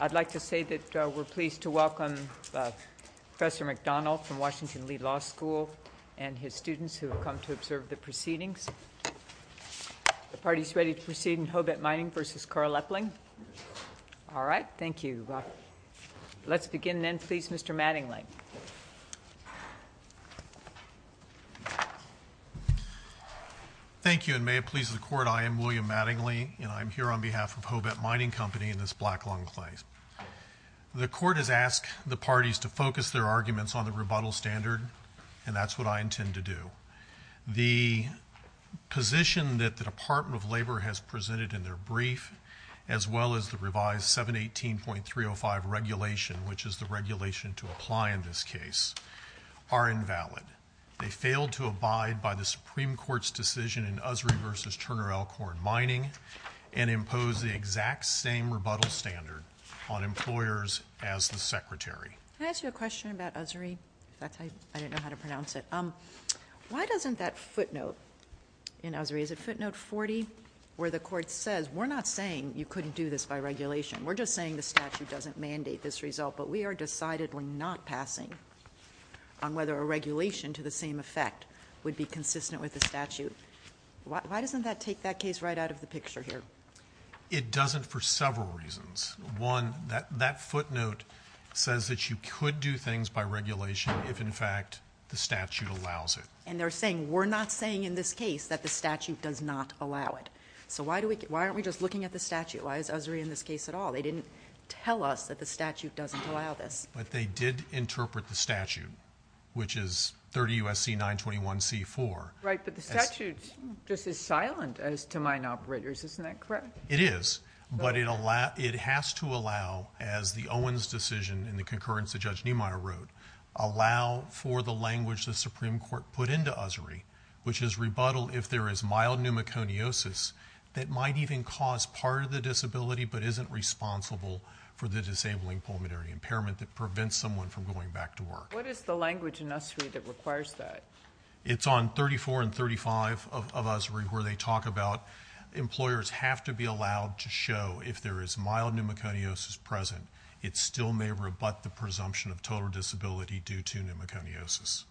I'd like to say that we're pleased to welcome Professor McDonald from Washington Lee Law School and his students who have come to observe the proceedings. The party's ready to proceed in Hobet Mining v. Carl Epling. All right, thank you. Let's begin then, please, Mr. Mattingly. Thank you, and may it please the court, I am William Mattingly, and I'm here on behalf of The court has asked the parties to focus their arguments on the rebuttal standard, and that's what I intend to do. The position that the Department of Labor has presented in their brief, as well as the revised 718.305 regulation, which is the regulation to apply in this case, are invalid. They failed to abide by the Supreme Court's decision in Usry v. Turner Elkhorn Mining and impose the exact same rebuttal standard on employers as the Secretary. Can I ask you a question about Usry? I don't know how to pronounce it. Why doesn't that footnote in Usry, is it footnote 40, where the court says, we're not saying you couldn't do this by regulation, we're just saying the statute doesn't mandate this result, but we are decidedly not passing on whether a regulation to the same effect would be consistent with the statute. Why doesn't that take that case right out of the picture here? It doesn't for several reasons. One, that footnote says that you could do things by regulation if in fact the statute allows it. And they're saying, we're not saying in this case that the statute does not allow it. So why aren't we just looking at the statute? Why is Usry in this case at all? They didn't tell us that the statute doesn't allow this. But they did interpret the statute, which is 30 U.S.C. 921C4. Right, but the statute just is silent as to mine operators, isn't that correct? It is. But it has to allow, as the Owens decision in the concurrence that Judge Niemeyer wrote, allow for the language the Supreme Court put into Usry, which is rebuttal if there is mild pneumoconiosis that might even cause part of the disability but isn't responsible for the disabling pulmonary impairment that prevents someone from going back to work. What is the language in Usry that requires that? It's on 34 and 35 of Usry where they talk about employers have to be allowed to show if there is mild pneumoconiosis present, it still may rebut the presumption of total disability due to pneumoconiosis.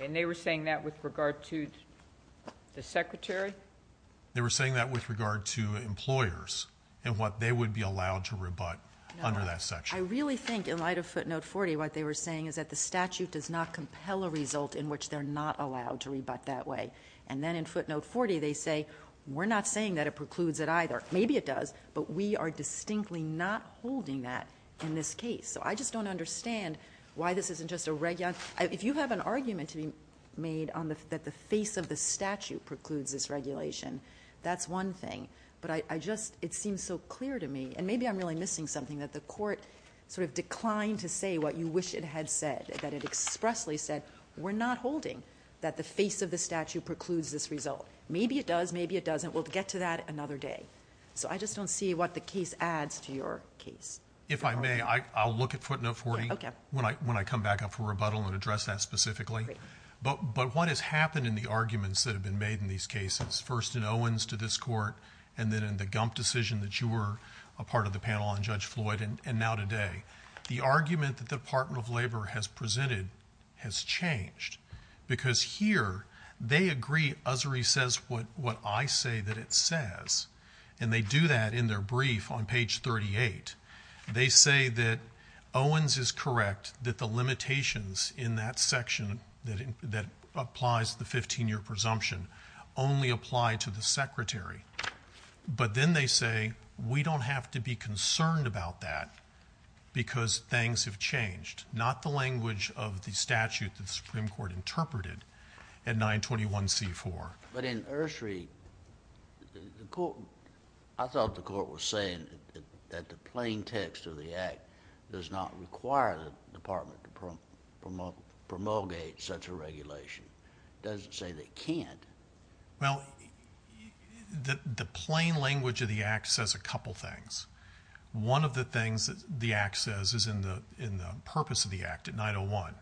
And they were saying that with regard to the secretary? They were saying that with regard to employers and what they would be allowed to rebut under that section. I really think in light of footnote 40 what they were saying is that the statute does not compel a result in which they're not allowed to rebut that way. And then in footnote 40 they say we're not saying that it precludes it either. Maybe it does, but we are distinctly not holding that in this case. So I just don't understand why this isn't just a regulation. If you have an argument to be made that the face of the statute precludes this regulation, that's one thing. But it seems so clear to me, and maybe I'm really missing something, that the court sort of declined to say what you wish it had said. That it expressly said we're not holding that the face of the statute precludes this result. Maybe it does, maybe it doesn't. We'll get to that another day. So I just don't see what the case adds to your case. If I may, I'll look at footnote 40 when I come back up for rebuttal and address that specifically. But what has happened in the arguments that have been made in these cases? First in Owens to this court, and then in the Gump decision that you were a part of the panel on Judge Floyd, and now today. The argument that the Department of Labor has presented has changed. Because here they agree, Ussery says what I say that it says. And they do that in their brief on page 38. They say that Owens is correct that the limitations in that section that applies the 15-year presumption only apply to the secretary. But then they say we don't have to be concerned about that because things have changed. Not the language of the statute that the Supreme Court interpreted at 921c4. But in Ussery, I thought the court was saying that the plain text of the act does not require the department to promulgate such a regulation. It doesn't say they can't. Well, the plain language of the act says a couple things. One of the things that the act says is in the purpose of the act at 901.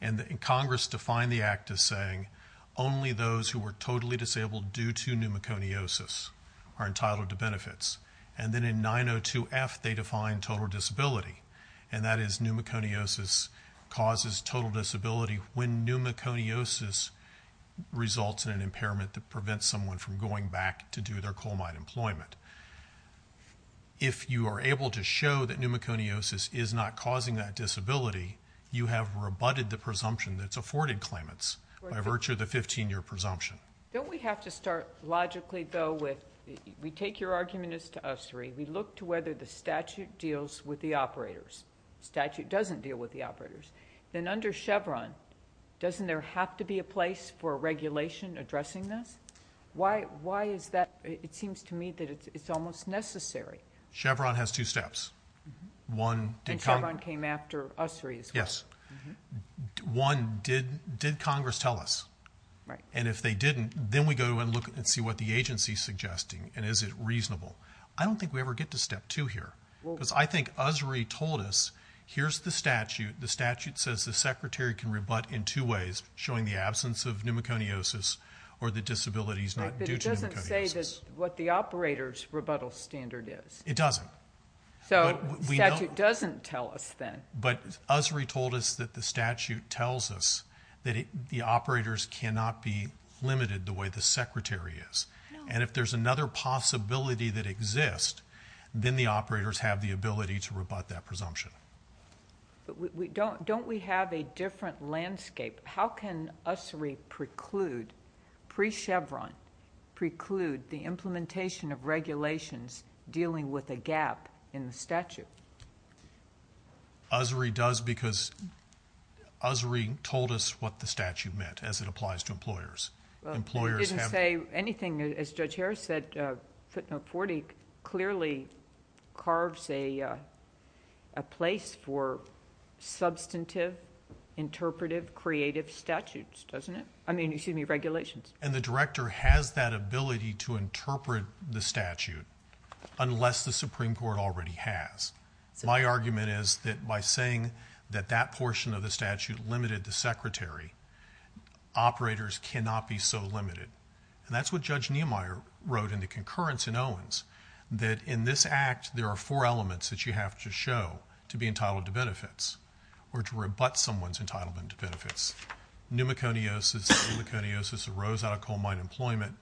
And Congress defined the act as saying only those who were totally disabled due to pneumoconiosis are entitled to benefits. And then in 902f, they define total disability. And that is pneumoconiosis causes total disability when pneumoconiosis results in an impairment that prevents someone from going back to do their coal mine employment. If you are able to show that pneumoconiosis is not causing that disability, you have rebutted the presumption that's afforded claimants by virtue of the 15-year presumption. Don't we have to start logically, though, with we take your argument as to Ussery. We look to whether the statute deals with the operators. Statute doesn't deal with the operators. Then under Chevron, doesn't there have to be a place for a regulation addressing this? Why is that? It seems to me that it's almost necessary. Chevron has two steps. And Chevron came after Ussery as well. Yes. One, did Congress tell us? Right. And if they didn't, then we go and look and see what the agency's suggesting. And is it reasonable? I don't think we ever get to step two here. Because I think Ussery told us, here's the statute says the secretary can rebut in two ways, showing the absence of pneumoconiosis or the disability is not due to pneumoconiosis. But it doesn't say what the operator's rebuttal standard is. It doesn't. So the statute doesn't tell us then. But Ussery told us that the statute tells us that the operators cannot be limited the way the secretary is. And if there's another possibility that exists, then the operators have the ability to rebut that presumption. But don't we have a different landscape? How can Ussery preclude, pre-Chevron, preclude the implementation of regulations dealing with a gap in the statute? Ussery does because Ussery told us what the statute meant, as it applies to employers. But it didn't say anything. As Judge Harris said, footnote 40 clearly carves a place for substantive, interpretive, creative statutes, doesn't it? I mean, excuse me, regulations. And the director has that ability to interpret the statute, unless the Supreme Court already has. My argument is that by saying that that portion of the statute limited the secretary, operators cannot be so limited. And that's what Judge Niemeyer wrote in the concurrence in Owens, that in this act there are four elements that you have to show to be entitled to benefits, or to rebut someone's entitlement to benefits. Pneumoconiosis, pneumoconiosis arose out of coal mine employment,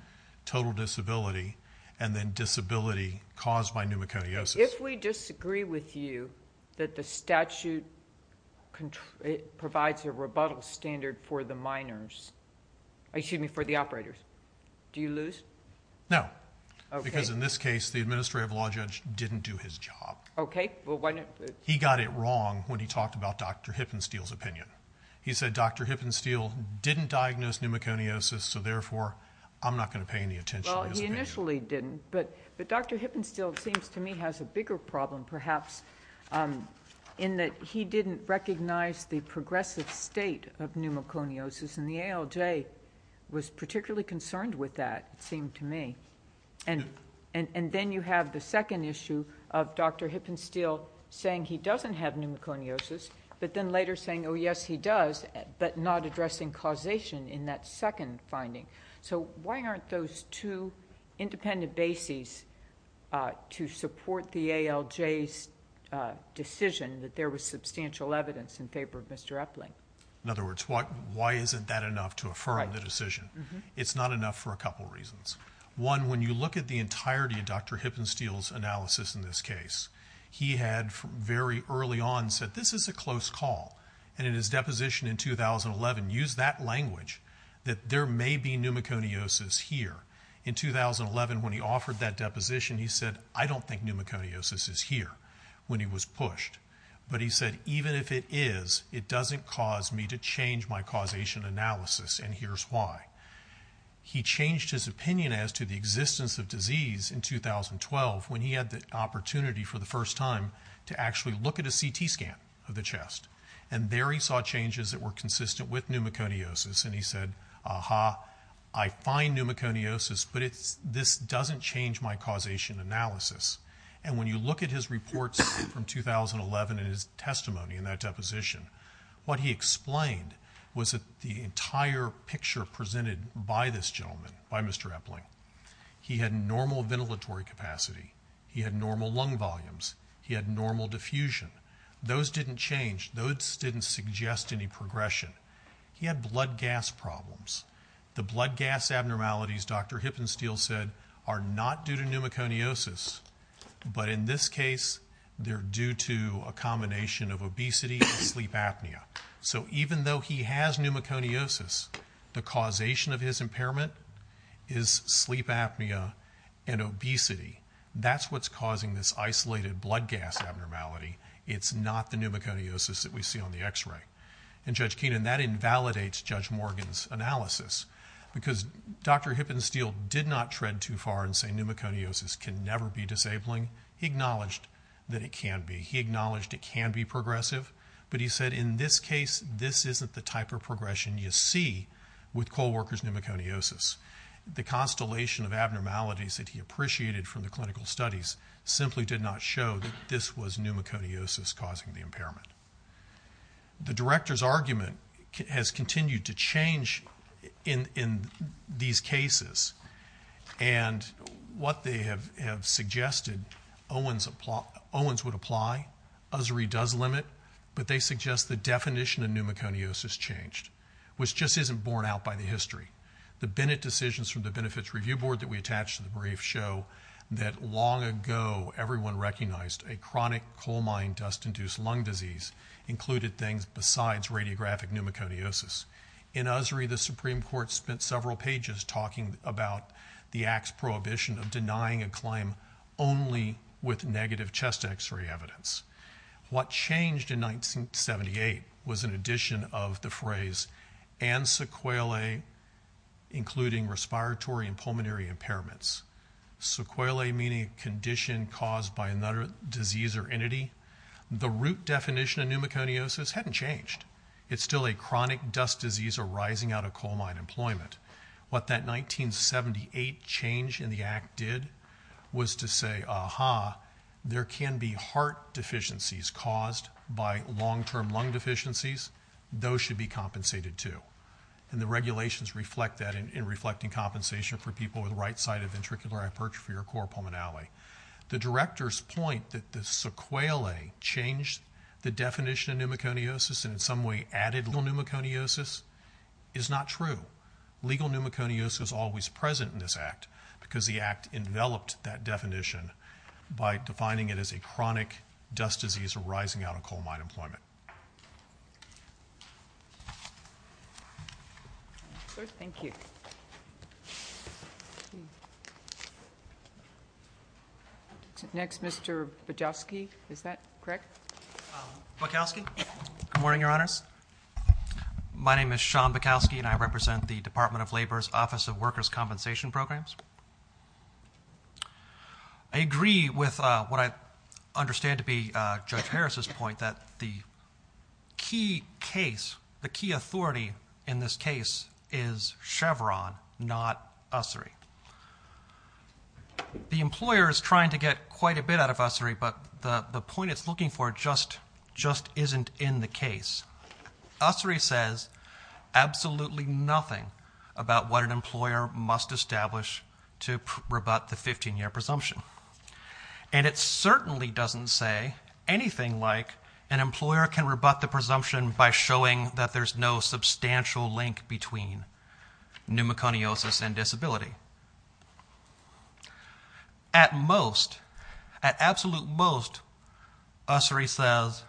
total disability, and then disability caused by pneumoconiosis. If we disagree with you that the statute provides a rebuttal standard for the miners, excuse me, for the operators, do you lose? No, because in this case the administrative law judge didn't do his job. He got it wrong when he talked about Dr. Hippensteel's opinion. He said Dr. Hippensteel didn't diagnose pneumoconiosis, so therefore, I'm not going to pay any attention to his opinion. Well, he initially didn't, but Dr. Hippensteel seems to me has a bigger problem perhaps in that he didn't recognize the progressive state of pneumoconiosis, and the ALJ was particularly concerned with that, it seemed to me. And then you have the second issue of Dr. Hippensteel saying he doesn't have pneumoconiosis, but then later saying, oh, yes, he does, but not addressing causation in that second finding. So why aren't those two independent bases to support the ALJ's decision that there was substantial evidence in favor of Mr. Epling? In other words, why isn't that enough to affirm the decision? It's not enough for a couple of reasons. One, when you look at the entirety of Dr. Hippensteel's analysis in this case, he had very early on said this is a close call, and in his deposition in 2011 used that language that there may be pneumoconiosis here. In 2011, when he offered that deposition, he said, I don't think pneumoconiosis is here when he was pushed. But he said, even if it is, it doesn't cause me to change my causation analysis, and here's why. He changed his opinion as to the existence of disease in 2012 when he had the opportunity for the first time to actually look at a CT scan of the chest, and there he saw changes that were consistent with pneumoconiosis, and he said, aha, I find pneumoconiosis, but this doesn't change my causation analysis. And when you look at his reports from 2011 and his testimony in that deposition, what he explained was that the entire picture presented by this gentleman, by Mr. Epling, he had normal ventilatory capacity. He had normal lung volumes. He had normal diffusion. Those didn't change. Those didn't suggest any progression. He had blood gas problems. The blood gas abnormalities, Dr. Hippensteel said, are not due to pneumoconiosis, but in this case, they're due to a combination of obesity and sleep apnea. So even though he has pneumoconiosis, the causation of his impairment is sleep apnea and obesity. That's what's causing this isolated blood gas abnormality. It's not the pneumoconiosis that we see on the X-ray. And Judge Keenan, that invalidates Judge Morgan's analysis, because Dr. Hippensteel did not tread too far and say pneumoconiosis can never be disabling. He acknowledged that it can be. He acknowledged it can be progressive, but he said, in this case, this isn't the type of progression you see with co-workers' pneumoconiosis. The constellation of abnormalities that he appreciated from the clinical studies simply did not show that this was pneumoconiosis causing the impairment. The director's argument has continued to change in these cases. And what they have suggested, Owens would apply, Usry does limit, but they suggest the definition of pneumoconiosis changed, which just isn't borne out by the history. The Bennett decisions from the Benefits Review Board that we attached to the brief show that long ago, everyone recognized a chronic coal mine dust-induced lung disease included things besides radiographic pneumoconiosis. In Usry, the Supreme Court spent several pages talking about the act's prohibition of denying a claim only with negative chest X-ray evidence. What changed in 1978 was an addition of the phrase, and sequelae, including respiratory and pulmonary impairments. Sequelae meaning condition caused by another disease or entity. The root definition of pneumoconiosis hadn't changed. It's still a chronic dust disease arising out of coal mine employment. What that 1978 change in the act did was to say, aha, there can be heart deficiencies caused by long-term lung deficiencies. Those should be compensated too. And the regulations reflect that in reflecting compensation for people with right-sided ventricular aperture for your core pulmonary. The director's point that the sequelae changed the definition of pneumoconiosis and in some way added pneumoconiosis is not true. Legal pneumoconiosis is always present in this act because the act enveloped that definition by defining it as a chronic dust disease arising out of coal mine employment. Thank you. Next, Mr. Bukowski. Is that correct? Bukowski. Good morning, Your Honors. My name is Sean Bukowski, and I represent the Department of Labor's Office of Workers' Compensation Programs. I agree with what I understand to be Judge Harris's point that the key case, the key authority in this case is Chevron, not USSRI. The employer is trying to get quite a bit out of USSRI, but the point it's looking for just isn't in the case. USSRI says absolutely nothing about what an employer must establish to rebut the 15-year presumption. And it certainly doesn't say anything like an employer can rebut the presumption by showing that there's no substantial link between pneumoconiosis and disability. At most, at absolute most, USSRI says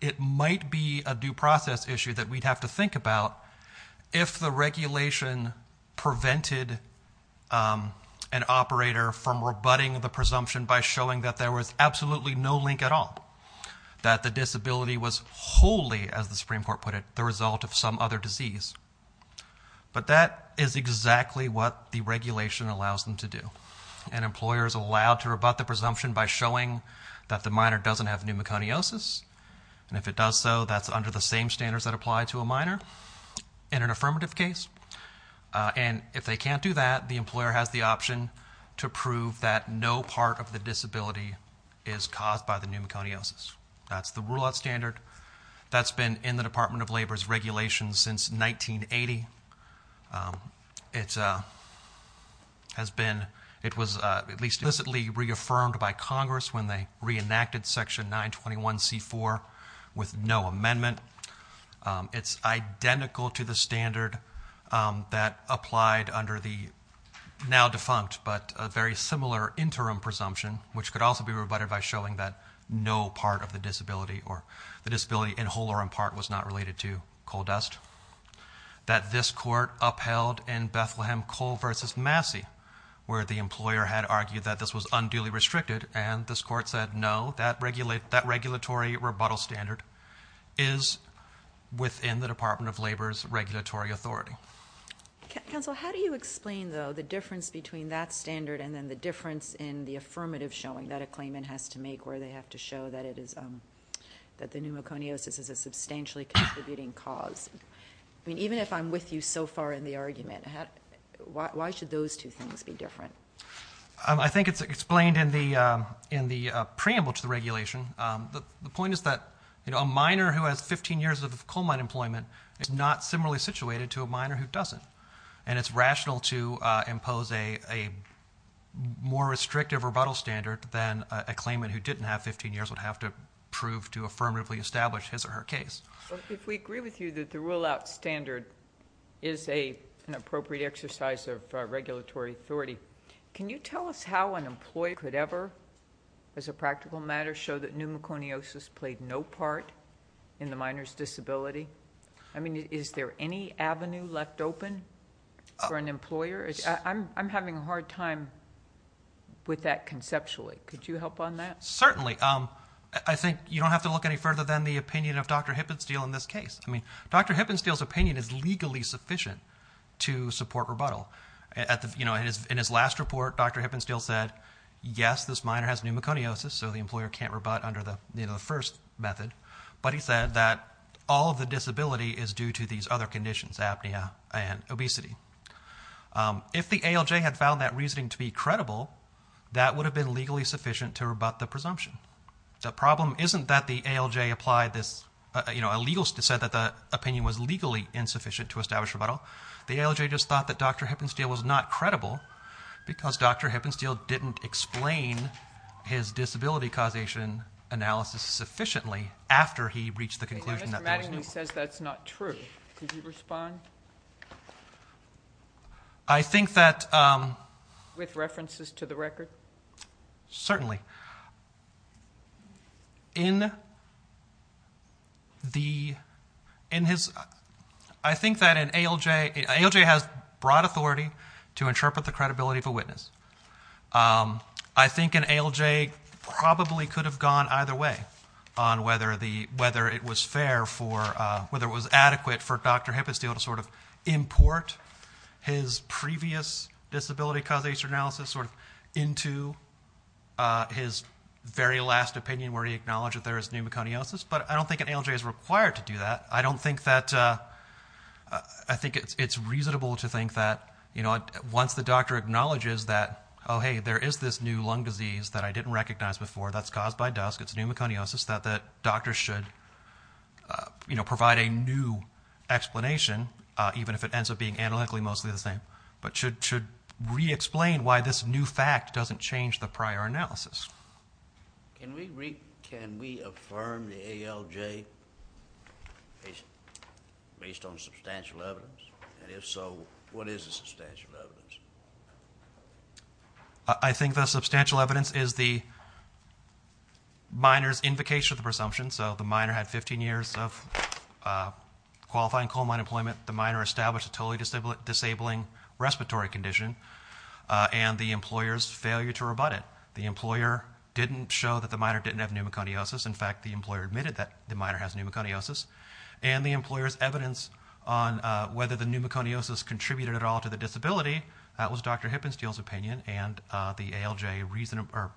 it might be a due process issue that we'd have to think about if the regulation prevented an operator from rebutting the presumption by showing that there was absolutely no link at all, that the disability was wholly, as the Supreme Court put it, the result of some other disease. But that is exactly what the regulation allows them to do. An employer is allowed to rebut the presumption by showing that the minor doesn't have pneumoconiosis. And if it does so, that's under the same standards that apply to a minor in an affirmative case. And if they can't do that, the employer has the option to prove that no part of the disability is caused by the pneumoconiosis. That's the rule of standard. That's been in the Department of Labor's regulations since 1980. It has been, it was at least explicitly reaffirmed by Congress when they reenacted Section 921C4 with no amendment. It's identical to the standard that applied under the now defunct, but a very similar interim presumption, which could also be rebutted by showing that no part of the disability or the disability in whole or in part was not related to coal dust. That this court upheld in Bethlehem Coal versus Massey, where the employer had argued that this was unduly restricted. And this court said, no, that regulatory rebuttal standard is within the Department of Labor's regulatory authority. Counsel, how do you explain, though, the difference between that standard and then the difference in the affirmative showing that a claimant has to make where they have to show that it is, that the pneumoconiosis is a substantially contributing cause? I mean, even if I'm with you so far in the argument, why should those two things be different? I think it's explained in the preamble to the regulation. The point is that a minor who has 15 years of coal mine employment is not similarly situated to a minor who doesn't. And it's rational to impose a more restrictive rebuttal standard than a claimant who didn't have 15 years would have to prove to affirmatively establish his or her case. If we agree with you that the rule-out standard is an appropriate exercise of regulatory authority, can you tell us how an employee could ever, as a practical matter, show that pneumoconiosis played no part in the minor's disability? I mean, is there any avenue left open for an employer? I'm having a hard time with that conceptually. Could you help on that? Certainly. I think you don't have to look any further than the opinion of Dr. Hippensteel in this case. I mean, Dr. Hippensteel's opinion is legally sufficient to support rebuttal. In his last report, Dr. Hippensteel said, yes, this minor has pneumoconiosis, so the employer can't rebut under the first method. But he said that all of the disability is due to these other conditions, apnea and obesity. If the ALJ had found that reasoning to be credible, that would have been legally sufficient to rebut the presumption. The problem isn't that the ALJ applied this, you know, said that the opinion was legally insufficient to establish rebuttal. The ALJ just thought that Dr. Hippensteel was not credible because Dr. Hippensteel didn't explain his disability causation analysis sufficiently after he reached the conclusion that there was pneumoconiosis. Mr. Mattingly says that's not true. Could you respond? I think that... With references to the record? Certainly. In the... I think that an ALJ... I think an ALJ probably could have gone either way on whether it was fair for, whether it was adequate for Dr. Hippensteel to sort of import his previous disability causation analysis sort of into his very last opinion where he acknowledged that there is pneumoconiosis. But I don't think an ALJ is required to do that. I don't think that... I think it's reasonable to think that, once the doctor acknowledges that, oh, hey, there is this new lung disease that I didn't recognize before that's caused by dust, it's pneumoconiosis, that the doctor should provide a new explanation even if it ends up being analytically mostly the same, but should re-explain why this new fact doesn't change the prior analysis. Can we affirm the ALJ based on substantial evidence? And if so, what is the substantial evidence? I think the substantial evidence is the minor's invocation of the presumption. So the minor had 15 years of qualifying coal mine employment. The minor established a totally disabling respiratory condition and the employer's failure to rebut it. The employer didn't show that the minor didn't have pneumoconiosis. that the minor has pneumoconiosis and the employer's evidence on whether the pneumoconiosis contributed at all to the disability, that was Dr. Hippensteel's opinion and the ALJ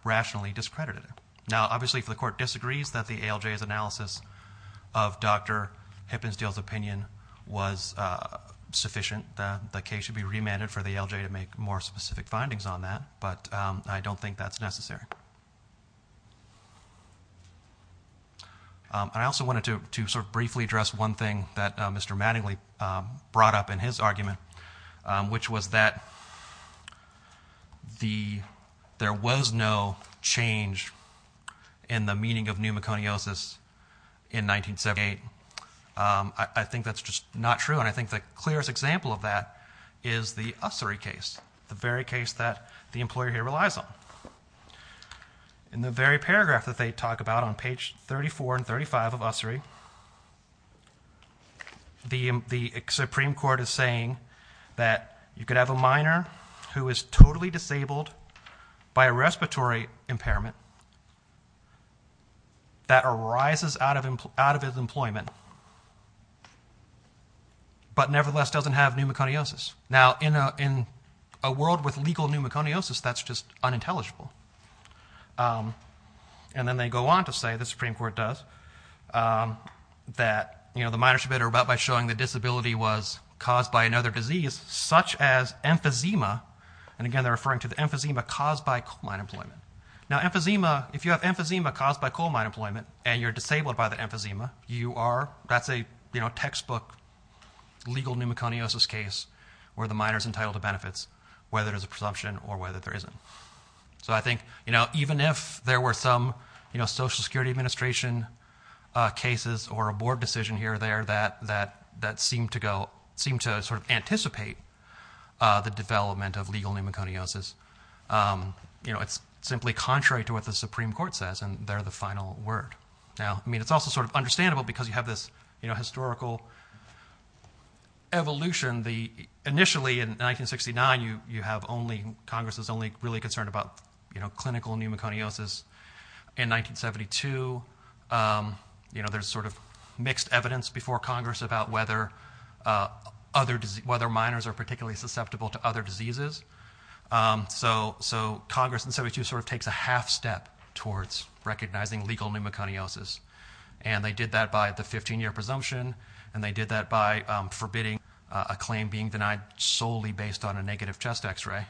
rationally discredited it. Now, obviously, if the court disagrees that the ALJ's analysis of Dr. Hippensteel's opinion was sufficient, the case should be remanded for the ALJ to make more specific findings on that, but I don't think that's necessary. And I also wanted to sort of briefly address one thing that Mr. Mattingly brought up in his argument, which was that there was no change in the meaning of pneumoconiosis in 1978. I think that's just not true and I think the clearest example of that is the Ussery case, the very case that the employer here relies on. on page 34 and 35 of Ussery, the Supreme Court is saying that you could have a minor who is totally disabled by a respiratory impairment that arises out of his employment but nevertheless doesn't have pneumoconiosis. Now, in a world with legal pneumoconiosis, that's just unintelligible. And then they go on to say, the Supreme Court does, that the minors are about by showing the disability was caused by another disease such as emphysema, and again, they're referring to the emphysema caused by coal mine employment. Now, emphysema, if you have emphysema caused by coal mine employment and you're disabled by the emphysema, you are, that's a textbook legal pneumoconiosis case where the minor's entitled to benefits, whether there's a presumption or whether there isn't. So I think even if there were some Social Security Administration cases or a board decision here or there that seem to go, seem to sort of anticipate the development of legal pneumoconiosis, it's simply contrary to what the Supreme Court says and they're the final word. Now, I mean, it's also sort of understandable because you have this historical evolution. Initially in 1969, you have only, Congress is only really concerned about clinical pneumoconiosis. In 1972, there's sort of mixed evidence before Congress about whether other, whether minors are particularly susceptible to other diseases. So Congress in 72 sort of takes a half step towards recognizing legal pneumoconiosis and they did that by the 15-year presumption and they did that by forbidding a claim being denied solely based on a negative chest X-ray.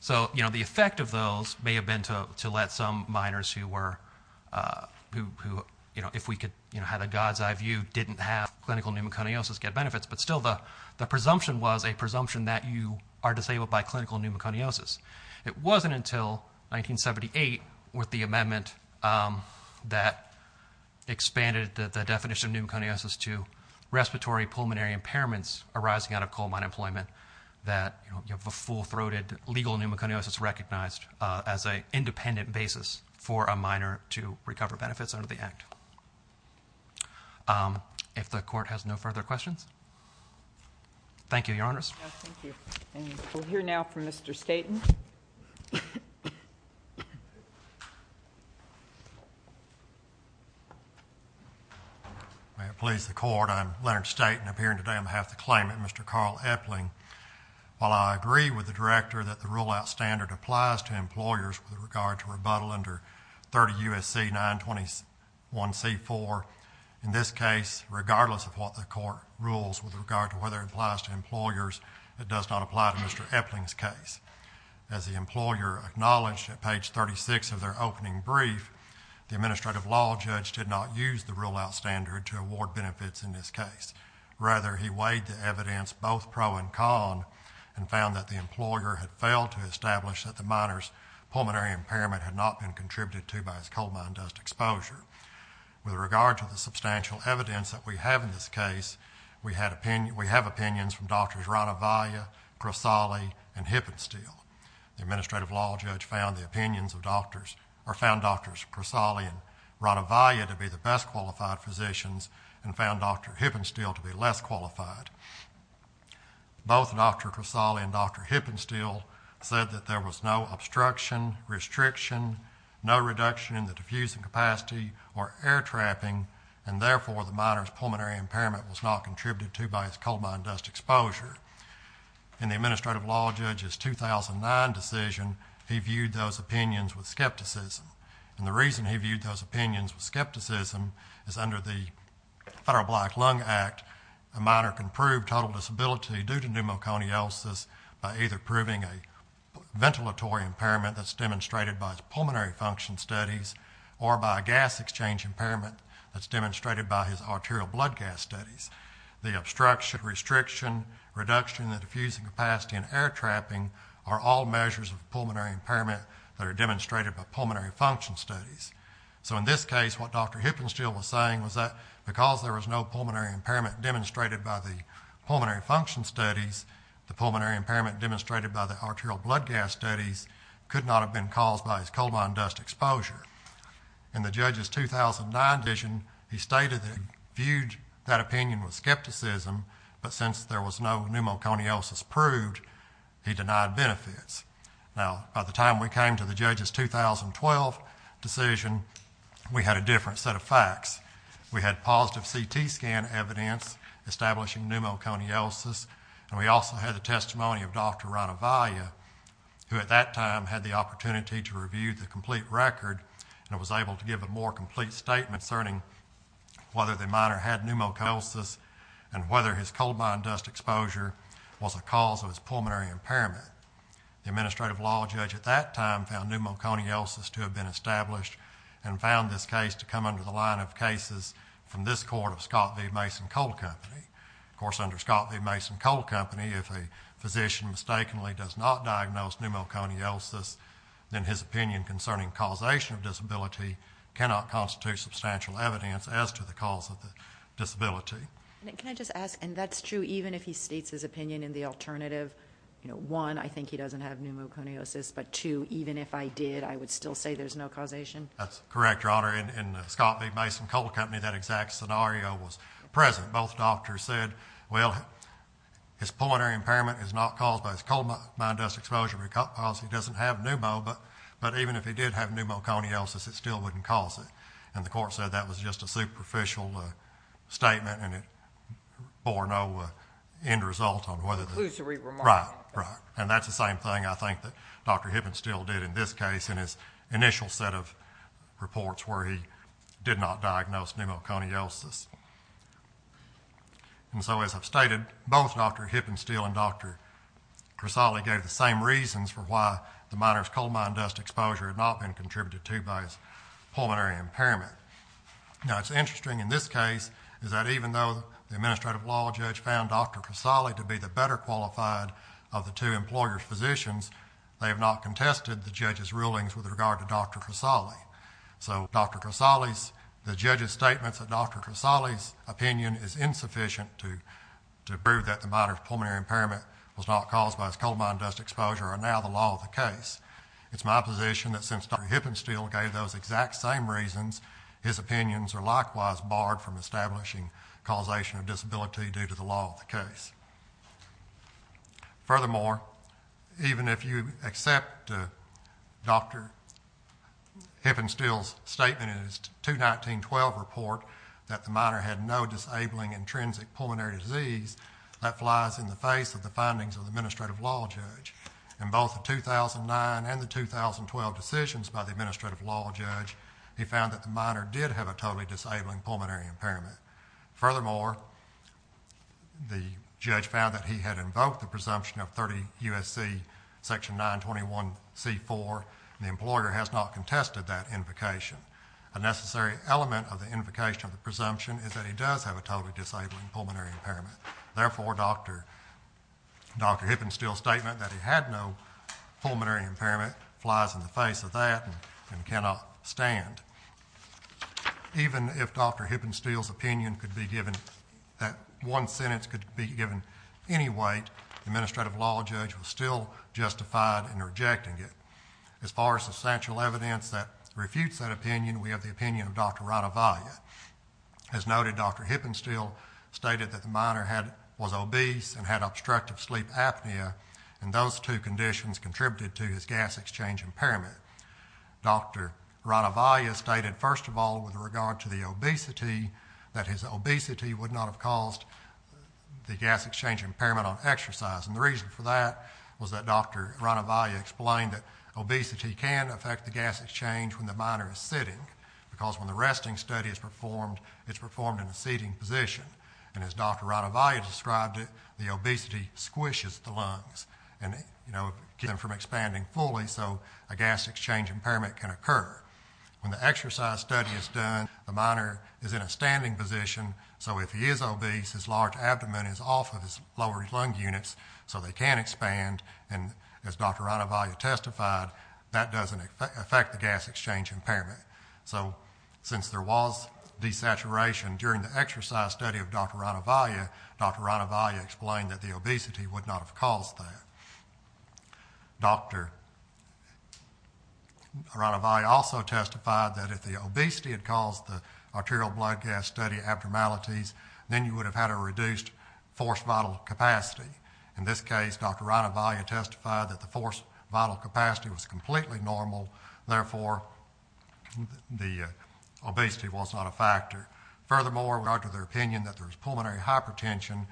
So, you know, the effect of those may have been to let some minors who were, who, you know, if we could, you know, had a God's eye view, didn't have clinical pneumoconiosis get benefits, but still the presumption was a presumption that you are disabled by clinical pneumoconiosis. It wasn't until 1978 with the amendment that expanded the definition of pneumoconiosis to respiratory pulmonary impairments arising out of coal mine employment that, you know, you have a full-throated legal pneumoconiosis recognized as a independent basis for a minor to recover benefits under the act. If the court has no further questions. Thank you, Your Honors. Yes, thank you. And we'll hear now from Mr. Staten. May it please the court. I'm Leonard Staten. I'm here today on behalf of the claimant, Mr. Carl Epling. While I agree with the director that the rule-out standard applies to employers with regard to rebuttal under 30 U.S.C. 921c4, in this case, regardless of what the court rules with regard to whether it applies to employers, it does not apply to Mr. Epling's case. As the employer acknowledged at page 36 of their opening brief, the administrative law judge did not use the rule-out standard to award benefits in this case. Rather, he weighed the evidence, both pro and con, and found that the employer had failed to establish that the minor's pulmonary impairment had not been contributed to by his coal mine dust exposure. With regard to the substantial evidence that we have in this case, we have opinions from Drs. Ranavalia, Crosali, and Hippensteel. The administrative law judge found the opinions of doctors, or found Drs. Crosali and Ranavalia to be the best-qualified physicians and found Dr. Hippensteel to be less qualified. Both Dr. Crosali and Dr. Hippensteel said that there was no obstruction, restriction, no reduction in the diffusing capacity or air trapping, and therefore the minor's pulmonary impairment was not contributed to by his coal mine dust exposure. In the administrative law judge's 2009 decision, he viewed those opinions with skepticism. And the reason he viewed those opinions with skepticism is under the Federal Black Lung Act, a minor can prove total disability due to pneumoconiosis by either proving a ventilatory impairment that's demonstrated by his pulmonary function studies or by a gas exchange impairment that's demonstrated by his arterial blood gas studies. The obstruction, restriction, reduction in the diffusing capacity and air trapping are all measures of pulmonary impairment that are demonstrated by pulmonary function studies. So in this case, what Dr. Hippensteel was saying was that because there was no pulmonary impairment demonstrated by the pulmonary function studies, the pulmonary impairment demonstrated by the arterial blood gas studies could not have been caused by his coal mine dust exposure. In the judge's 2009 decision, he stated that he viewed that opinion with skepticism, but since there was no pneumoconiosis proved, he denied benefits. Now, by the time we came to the judge's 2012 decision, we had a different set of facts. We had positive CT scan evidence establishing pneumoconiosis, and we also had the testimony of Dr. Ranavalia, who at that time had the opportunity to review the complete record and was able to give a more complete statement concerning whether the miner had pneumoconiosis and whether his coal mine dust exposure was a cause of his pulmonary impairment. The administrative law judge at that time found pneumoconiosis to have been established and found this case to come under the line of cases from this court of Scott v. Mason Coal Company. Of course, under Scott v. Mason Coal Company, if a physician mistakenly does not diagnose pneumoconiosis, then his opinion concerning causation of disability cannot constitute substantial evidence as to the cause of the disability. And can I just ask, and that's true even if he states his opinion in the alternative, one, I think he doesn't have pneumoconiosis, but two, even if I did, I would still say there's no causation? That's correct, Your Honor. In Scott v. Mason Coal Company, that exact scenario was present. Both doctors said, well, his pulmonary impairment is not caused by his coal mine dust exposure because he doesn't have pneumo, but even if he did have pneumoconiosis, it still wouldn't cause it. And the court said that was just a superficial statement and it bore no end result on whether the- Conclusory remark. Right, right. And that's the same thing I think that Dr. Hibben still did in this case in his initial set of reports where he did not diagnose pneumoconiosis. And so as I've stated, both Dr. Hibben still and Dr. Crisali gave the same reasons for why the miner's coal mine dust exposure had not been contributed to by his pulmonary impairment. Now, it's interesting in this case is that even though the administrative law judge found Dr. Crisali to be the better qualified of the two employers' physicians, they have not contested the judge's rulings with regard to Dr. Crisali. So Dr. Crisali's, the judge's statements that Dr. Crisali's opinion is insufficient to prove that the miner's pulmonary impairment was not caused by his coal mine dust exposure are now the law of the case. It's my position that since Dr. Hibben still gave those exact same reasons, from establishing causation of disability due to the law of the case. Furthermore, even if you accept Dr. Hibben still's statement in his 2019-12 report that the miner had no disabling intrinsic pulmonary disease, that flies in the face of the findings of the administrative law judge. In both the 2009 and the 2012 decisions by the administrative law judge, he found that the miner did have a totally disabling pulmonary impairment. Furthermore, the judge found that he had invoked the presumption of 30 U.S.C. section 921c4, and the employer has not contested that invocation. A necessary element of the invocation of the presumption is that he does have a totally disabling pulmonary impairment. Therefore, Dr. Hibben still's statement that he had no pulmonary impairment flies in the face of that and cannot stand. Even if Dr. Hibben still's opinion could be given, that one sentence could be given any weight, the administrative law judge was still justified in rejecting it. As far as substantial evidence that refutes that opinion, we have the opinion of Dr. Radhavaya. As noted, Dr. Hibben still stated that the miner was obese and had obstructive sleep apnea, and those two conditions contributed to his gas exchange impairment. Dr. Radhavaya stated, first of all, with regard to the obesity, that his obesity would not have caused the gas exchange impairment on exercise. And the reason for that was that Dr. Radhavaya explained that obesity can affect the gas exchange when the miner is sitting, because when the resting study is performed, it's performed in a seating position. And as Dr. Radhavaya described it, the obesity squishes the lungs and keeps them from expanding fully. So a gas exchange impairment can occur. When the exercise study is done, the miner is in a standing position. So if he is obese, his large abdomen is off of his lower lung units, so they can expand. And as Dr. Radhavaya testified, that doesn't affect the gas exchange impairment. So since there was desaturation during the exercise study of Dr. Radhavaya, Dr. Radhavaya explained that the obesity would not have caused that. Dr. Radhavaya also testified that if the obesity had caused the arterial blood gas study abnormalities, then you would have had a reduced force vital capacity. In this case, Dr. Radhavaya testified that the force vital capacity was completely normal. Therefore, the obesity was not a factor. Furthermore, we argue their opinion that there was pulmonary hypertension.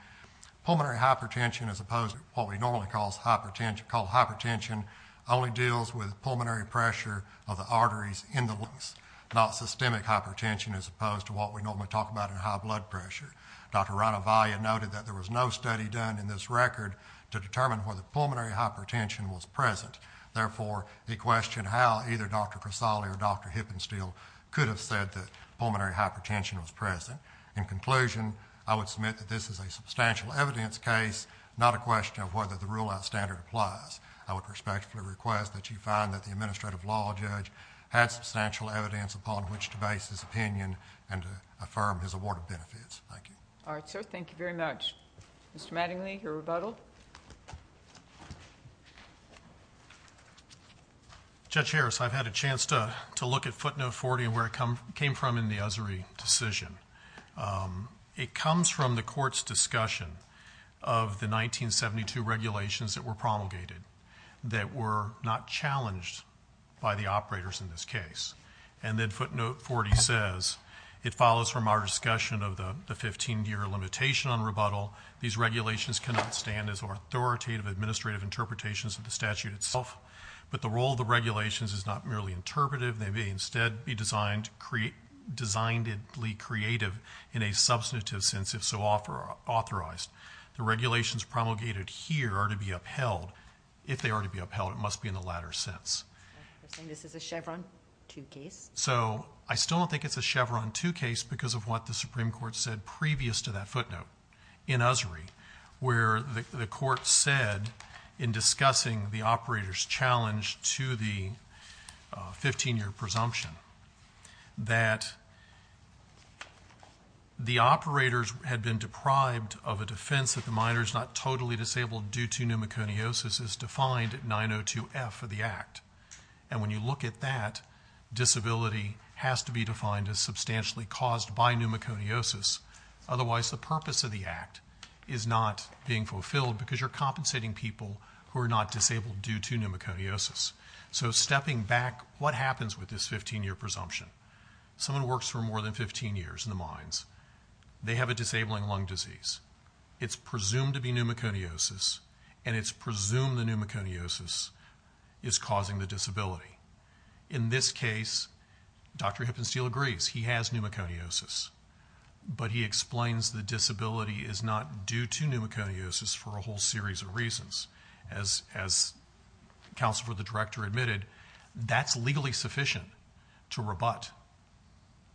Pulmonary hypertension is opposed to what we normally call hypertension, only deals with pulmonary pressure of the arteries in the lungs, not systemic hypertension, as opposed to what we normally talk about in high blood pressure. Dr. Radhavaya noted that there was no study done in this record to determine whether pulmonary hypertension was present. Therefore, he questioned how either Dr. Crisale or Dr. Hippensteel could have said that pulmonary hypertension was present. In conclusion, I would submit that this is a substantial evidence case, not a question of whether the rule of standard applies. I would respectfully request that you find that the administrative law judge had substantial evidence upon which to base his opinion and to affirm his award of benefits. Thank you. All right, sir. Thank you very much. Mr. Mattingly, your rebuttal. Judge Harris, I've had a chance to look at footnote 40 and where it came from in the Usry decision. It comes from the court's discussion of the 1972 regulations that were promulgated that were not challenged by the operators in this case. And then footnote 40 says, it follows from our discussion of the 15-year limitation on rebuttal. These regulations cannot stand as authoritative administrative interpretations of the statute itself, but the role of the regulations is not merely interpretive. They may instead be designedly creative in a substantive sense, if so authorized. The regulations promulgated here are to be upheld. If they are to be upheld, it must be in the latter sense. This is a Chevron 2 case. So I still don't think it's a Chevron 2 case because of what the Supreme Court said previous to that footnote in Usry, where the court said in discussing the operator's challenge to the 15-year presumption that the operators had been deprived of a defense that the minor is not totally disabled due to pneumoconiosis as defined at 902F of the act. And when you look at that, disability has to be defined as substantially caused by pneumoconiosis. Otherwise, the purpose of the act is not being fulfilled because you're compensating people who are not disabled due to pneumoconiosis. So stepping back, what happens with this 15-year presumption? Someone works for more than 15 years in the mines. They have a disabling lung disease. It's presumed to be pneumoconiosis and it's presumed the pneumoconiosis is causing the disability. In this case, Dr. Hippensteel agrees. He has pneumoconiosis, for a whole series of reasons. As Counsel for the Director admitted, that's legally sufficient to rebut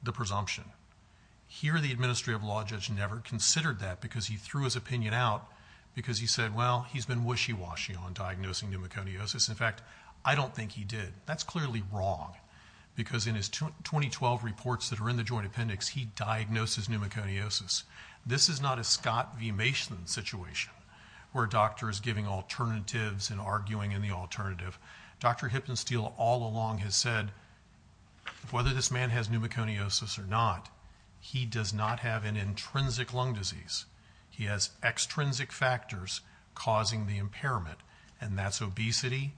the presumption. Here, the Administrative Law Judge never considered that because he threw his opinion out because he said, well, he's been wishy-washy on diagnosing pneumoconiosis. In fact, I don't think he did. That's clearly wrong because in his 2012 reports that are in the Joint Appendix, he diagnoses pneumoconiosis. This is not a Scott V. Mason situation where a doctor is giving alternatives and arguing in the alternative. Dr. Hippensteel all along has said, whether this man has pneumoconiosis or not, he does not have an intrinsic lung disease. He has extrinsic factors causing the impairment and that's obesity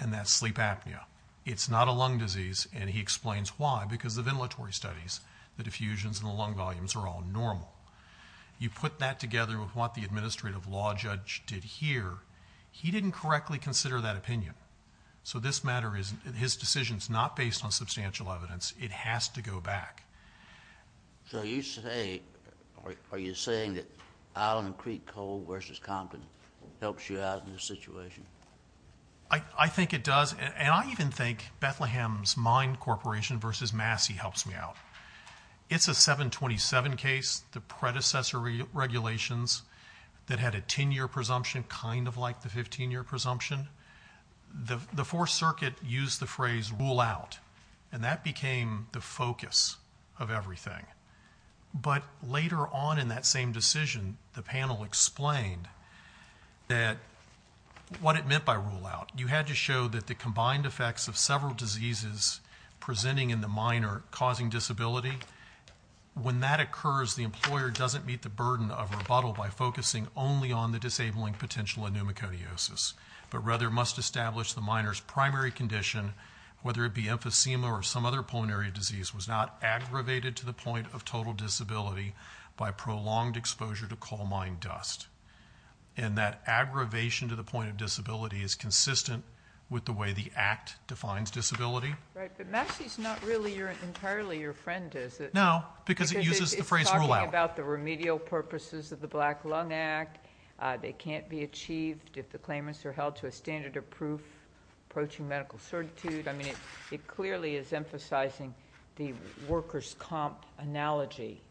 and that's sleep apnea. It's not a lung disease and he explains why because the ventilatory studies, the diffusions and the lung volumes are all normal. You put that together with what the Administrative Law Judge did here, he didn't correctly consider that opinion. So this matter is, his decision is not based on substantial evidence. It has to go back. So you say, are you saying that Island Creek Coal versus Compton helps you out in this situation? I think it does. And I even think Bethlehem's Mine Corporation versus Massey helps me out. It's a 727 case. The predecessor regulations that had a 10-year presumption, kind of like the 15-year presumption. The Fourth Circuit used the phrase rule out and that became the focus of everything. But later on in that same decision, the panel explained that what it meant by rule out. You had to show that the combined effects of several diseases presenting in the minor causing disability. When that occurs, the employer doesn't meet the burden of rebuttal by focusing only on the disabling potential of pneumoconiosis, but rather must establish the minor's primary condition, whether it be emphysema or some other pulmonary disease was not aggravated to the point of total disability by prolonged exposure to coal mine dust. And that aggravation to the point of disability is consistent with the way the act defines disability. Right, but Massey's not really entirely your friend, is it? No, because it uses the phrase rule out. It's talking about the remedial purposes of the Black Lung Act. They can't be achieved if the claimants are held to a standard of proof, approaching medical certitude. I mean, it clearly is emphasizing the workers' comp analogy.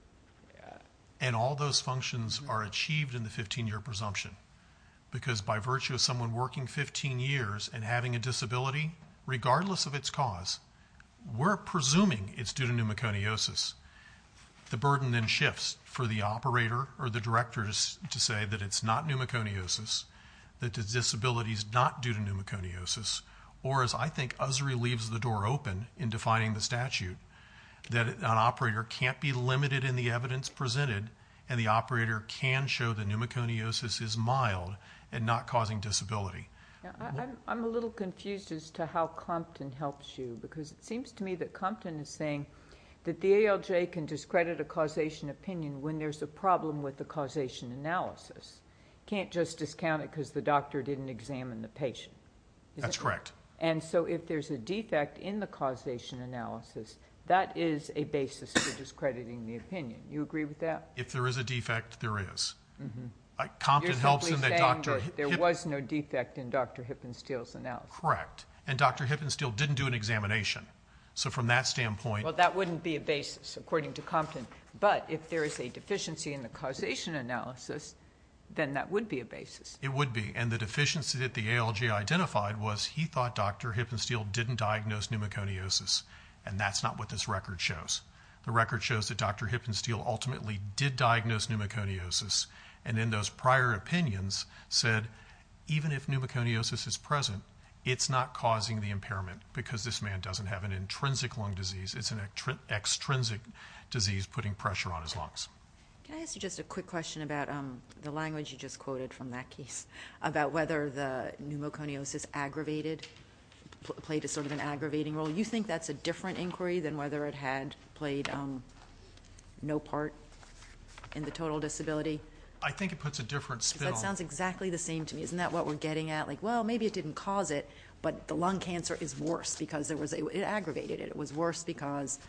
And all those functions are achieved in the 15-year presumption because by virtue of someone working 15 years and having a disability, regardless of its cause, we're presuming it's due to pneumoconiosis. The burden then shifts for the operator or the directors to say that it's not pneumoconiosis, that the disability's not due to pneumoconiosis, or as I think Usry leaves the door open in defining the statute, that an operator can't be limited in the evidence presented and the operator can show that pneumoconiosis is mild and not causing disability. Yeah, I'm a little confused as to how Compton helps you because it seems to me that Compton is saying that the ALJ can discredit a causation opinion when there's a problem with the causation analysis. You can't just discount it because the doctor didn't examine the patient. That's correct. And so if there's a defect in the causation analysis, that is a basis for discrediting the opinion. You agree with that? If there is a defect, there is. Compton helps in the doctor. There was no defect in Dr. Hippensteel's analysis. Correct. And Dr. Hippensteel didn't do an examination. So from that standpoint- Well, that wouldn't be a basis according to Compton. But if there is a deficiency in the causation analysis, then that would be a basis. It would be. And the deficiency that the ALJ identified was he thought Dr. Hippensteel didn't diagnose pneumoconiosis. And that's not what this record shows. The record shows that Dr. Hippensteel ultimately did diagnose pneumoconiosis. And in those prior opinions said, even if pneumoconiosis is present, it's not causing the impairment because this man doesn't have an intrinsic lung disease. It's an extrinsic disease putting pressure on his lungs. Can I ask you just a quick question about the language you just quoted from that case, about whether the pneumoconiosis aggravated, played a sort of an aggravating role. You think that's a different inquiry than whether it had played no part in the total disability? I think it puts a different spin on- That sounds exactly the same to me. Isn't that what we're getting at? Like, well, maybe it didn't cause it, but the lung cancer is worse because it aggravated it. It was worse because,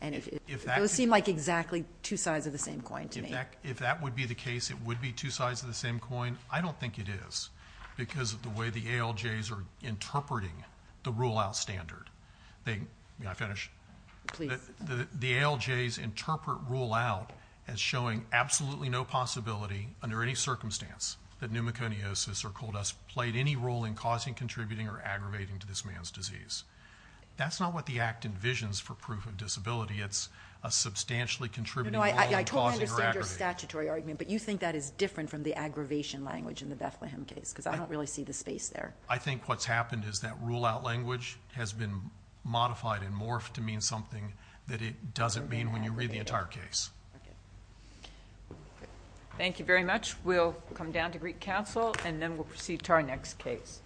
and it seemed like exactly two sides of the same coin to me. In fact, if that would be the case, it would be two sides of the same coin. I don't think it is because of the way the ALJs are interpreting the rule out standard. They, may I finish? Please. The ALJs interpret rule out as showing absolutely no possibility under any circumstance that pneumoconiosis or cold us played any role in causing, contributing or aggravating to this man's disease. That's not what the act envisions for proof of disability. It's a substantially contributing- No, I totally understand your statutory argument, but you think that is different from the aggravation language in the Bethlehem case because I don't really see the space there. I think what's happened is that rule out language has been modified and morphed that it doesn't mean when you read the entire case. Thank you very much. We'll come down to Greek Council and then we'll proceed to our next case.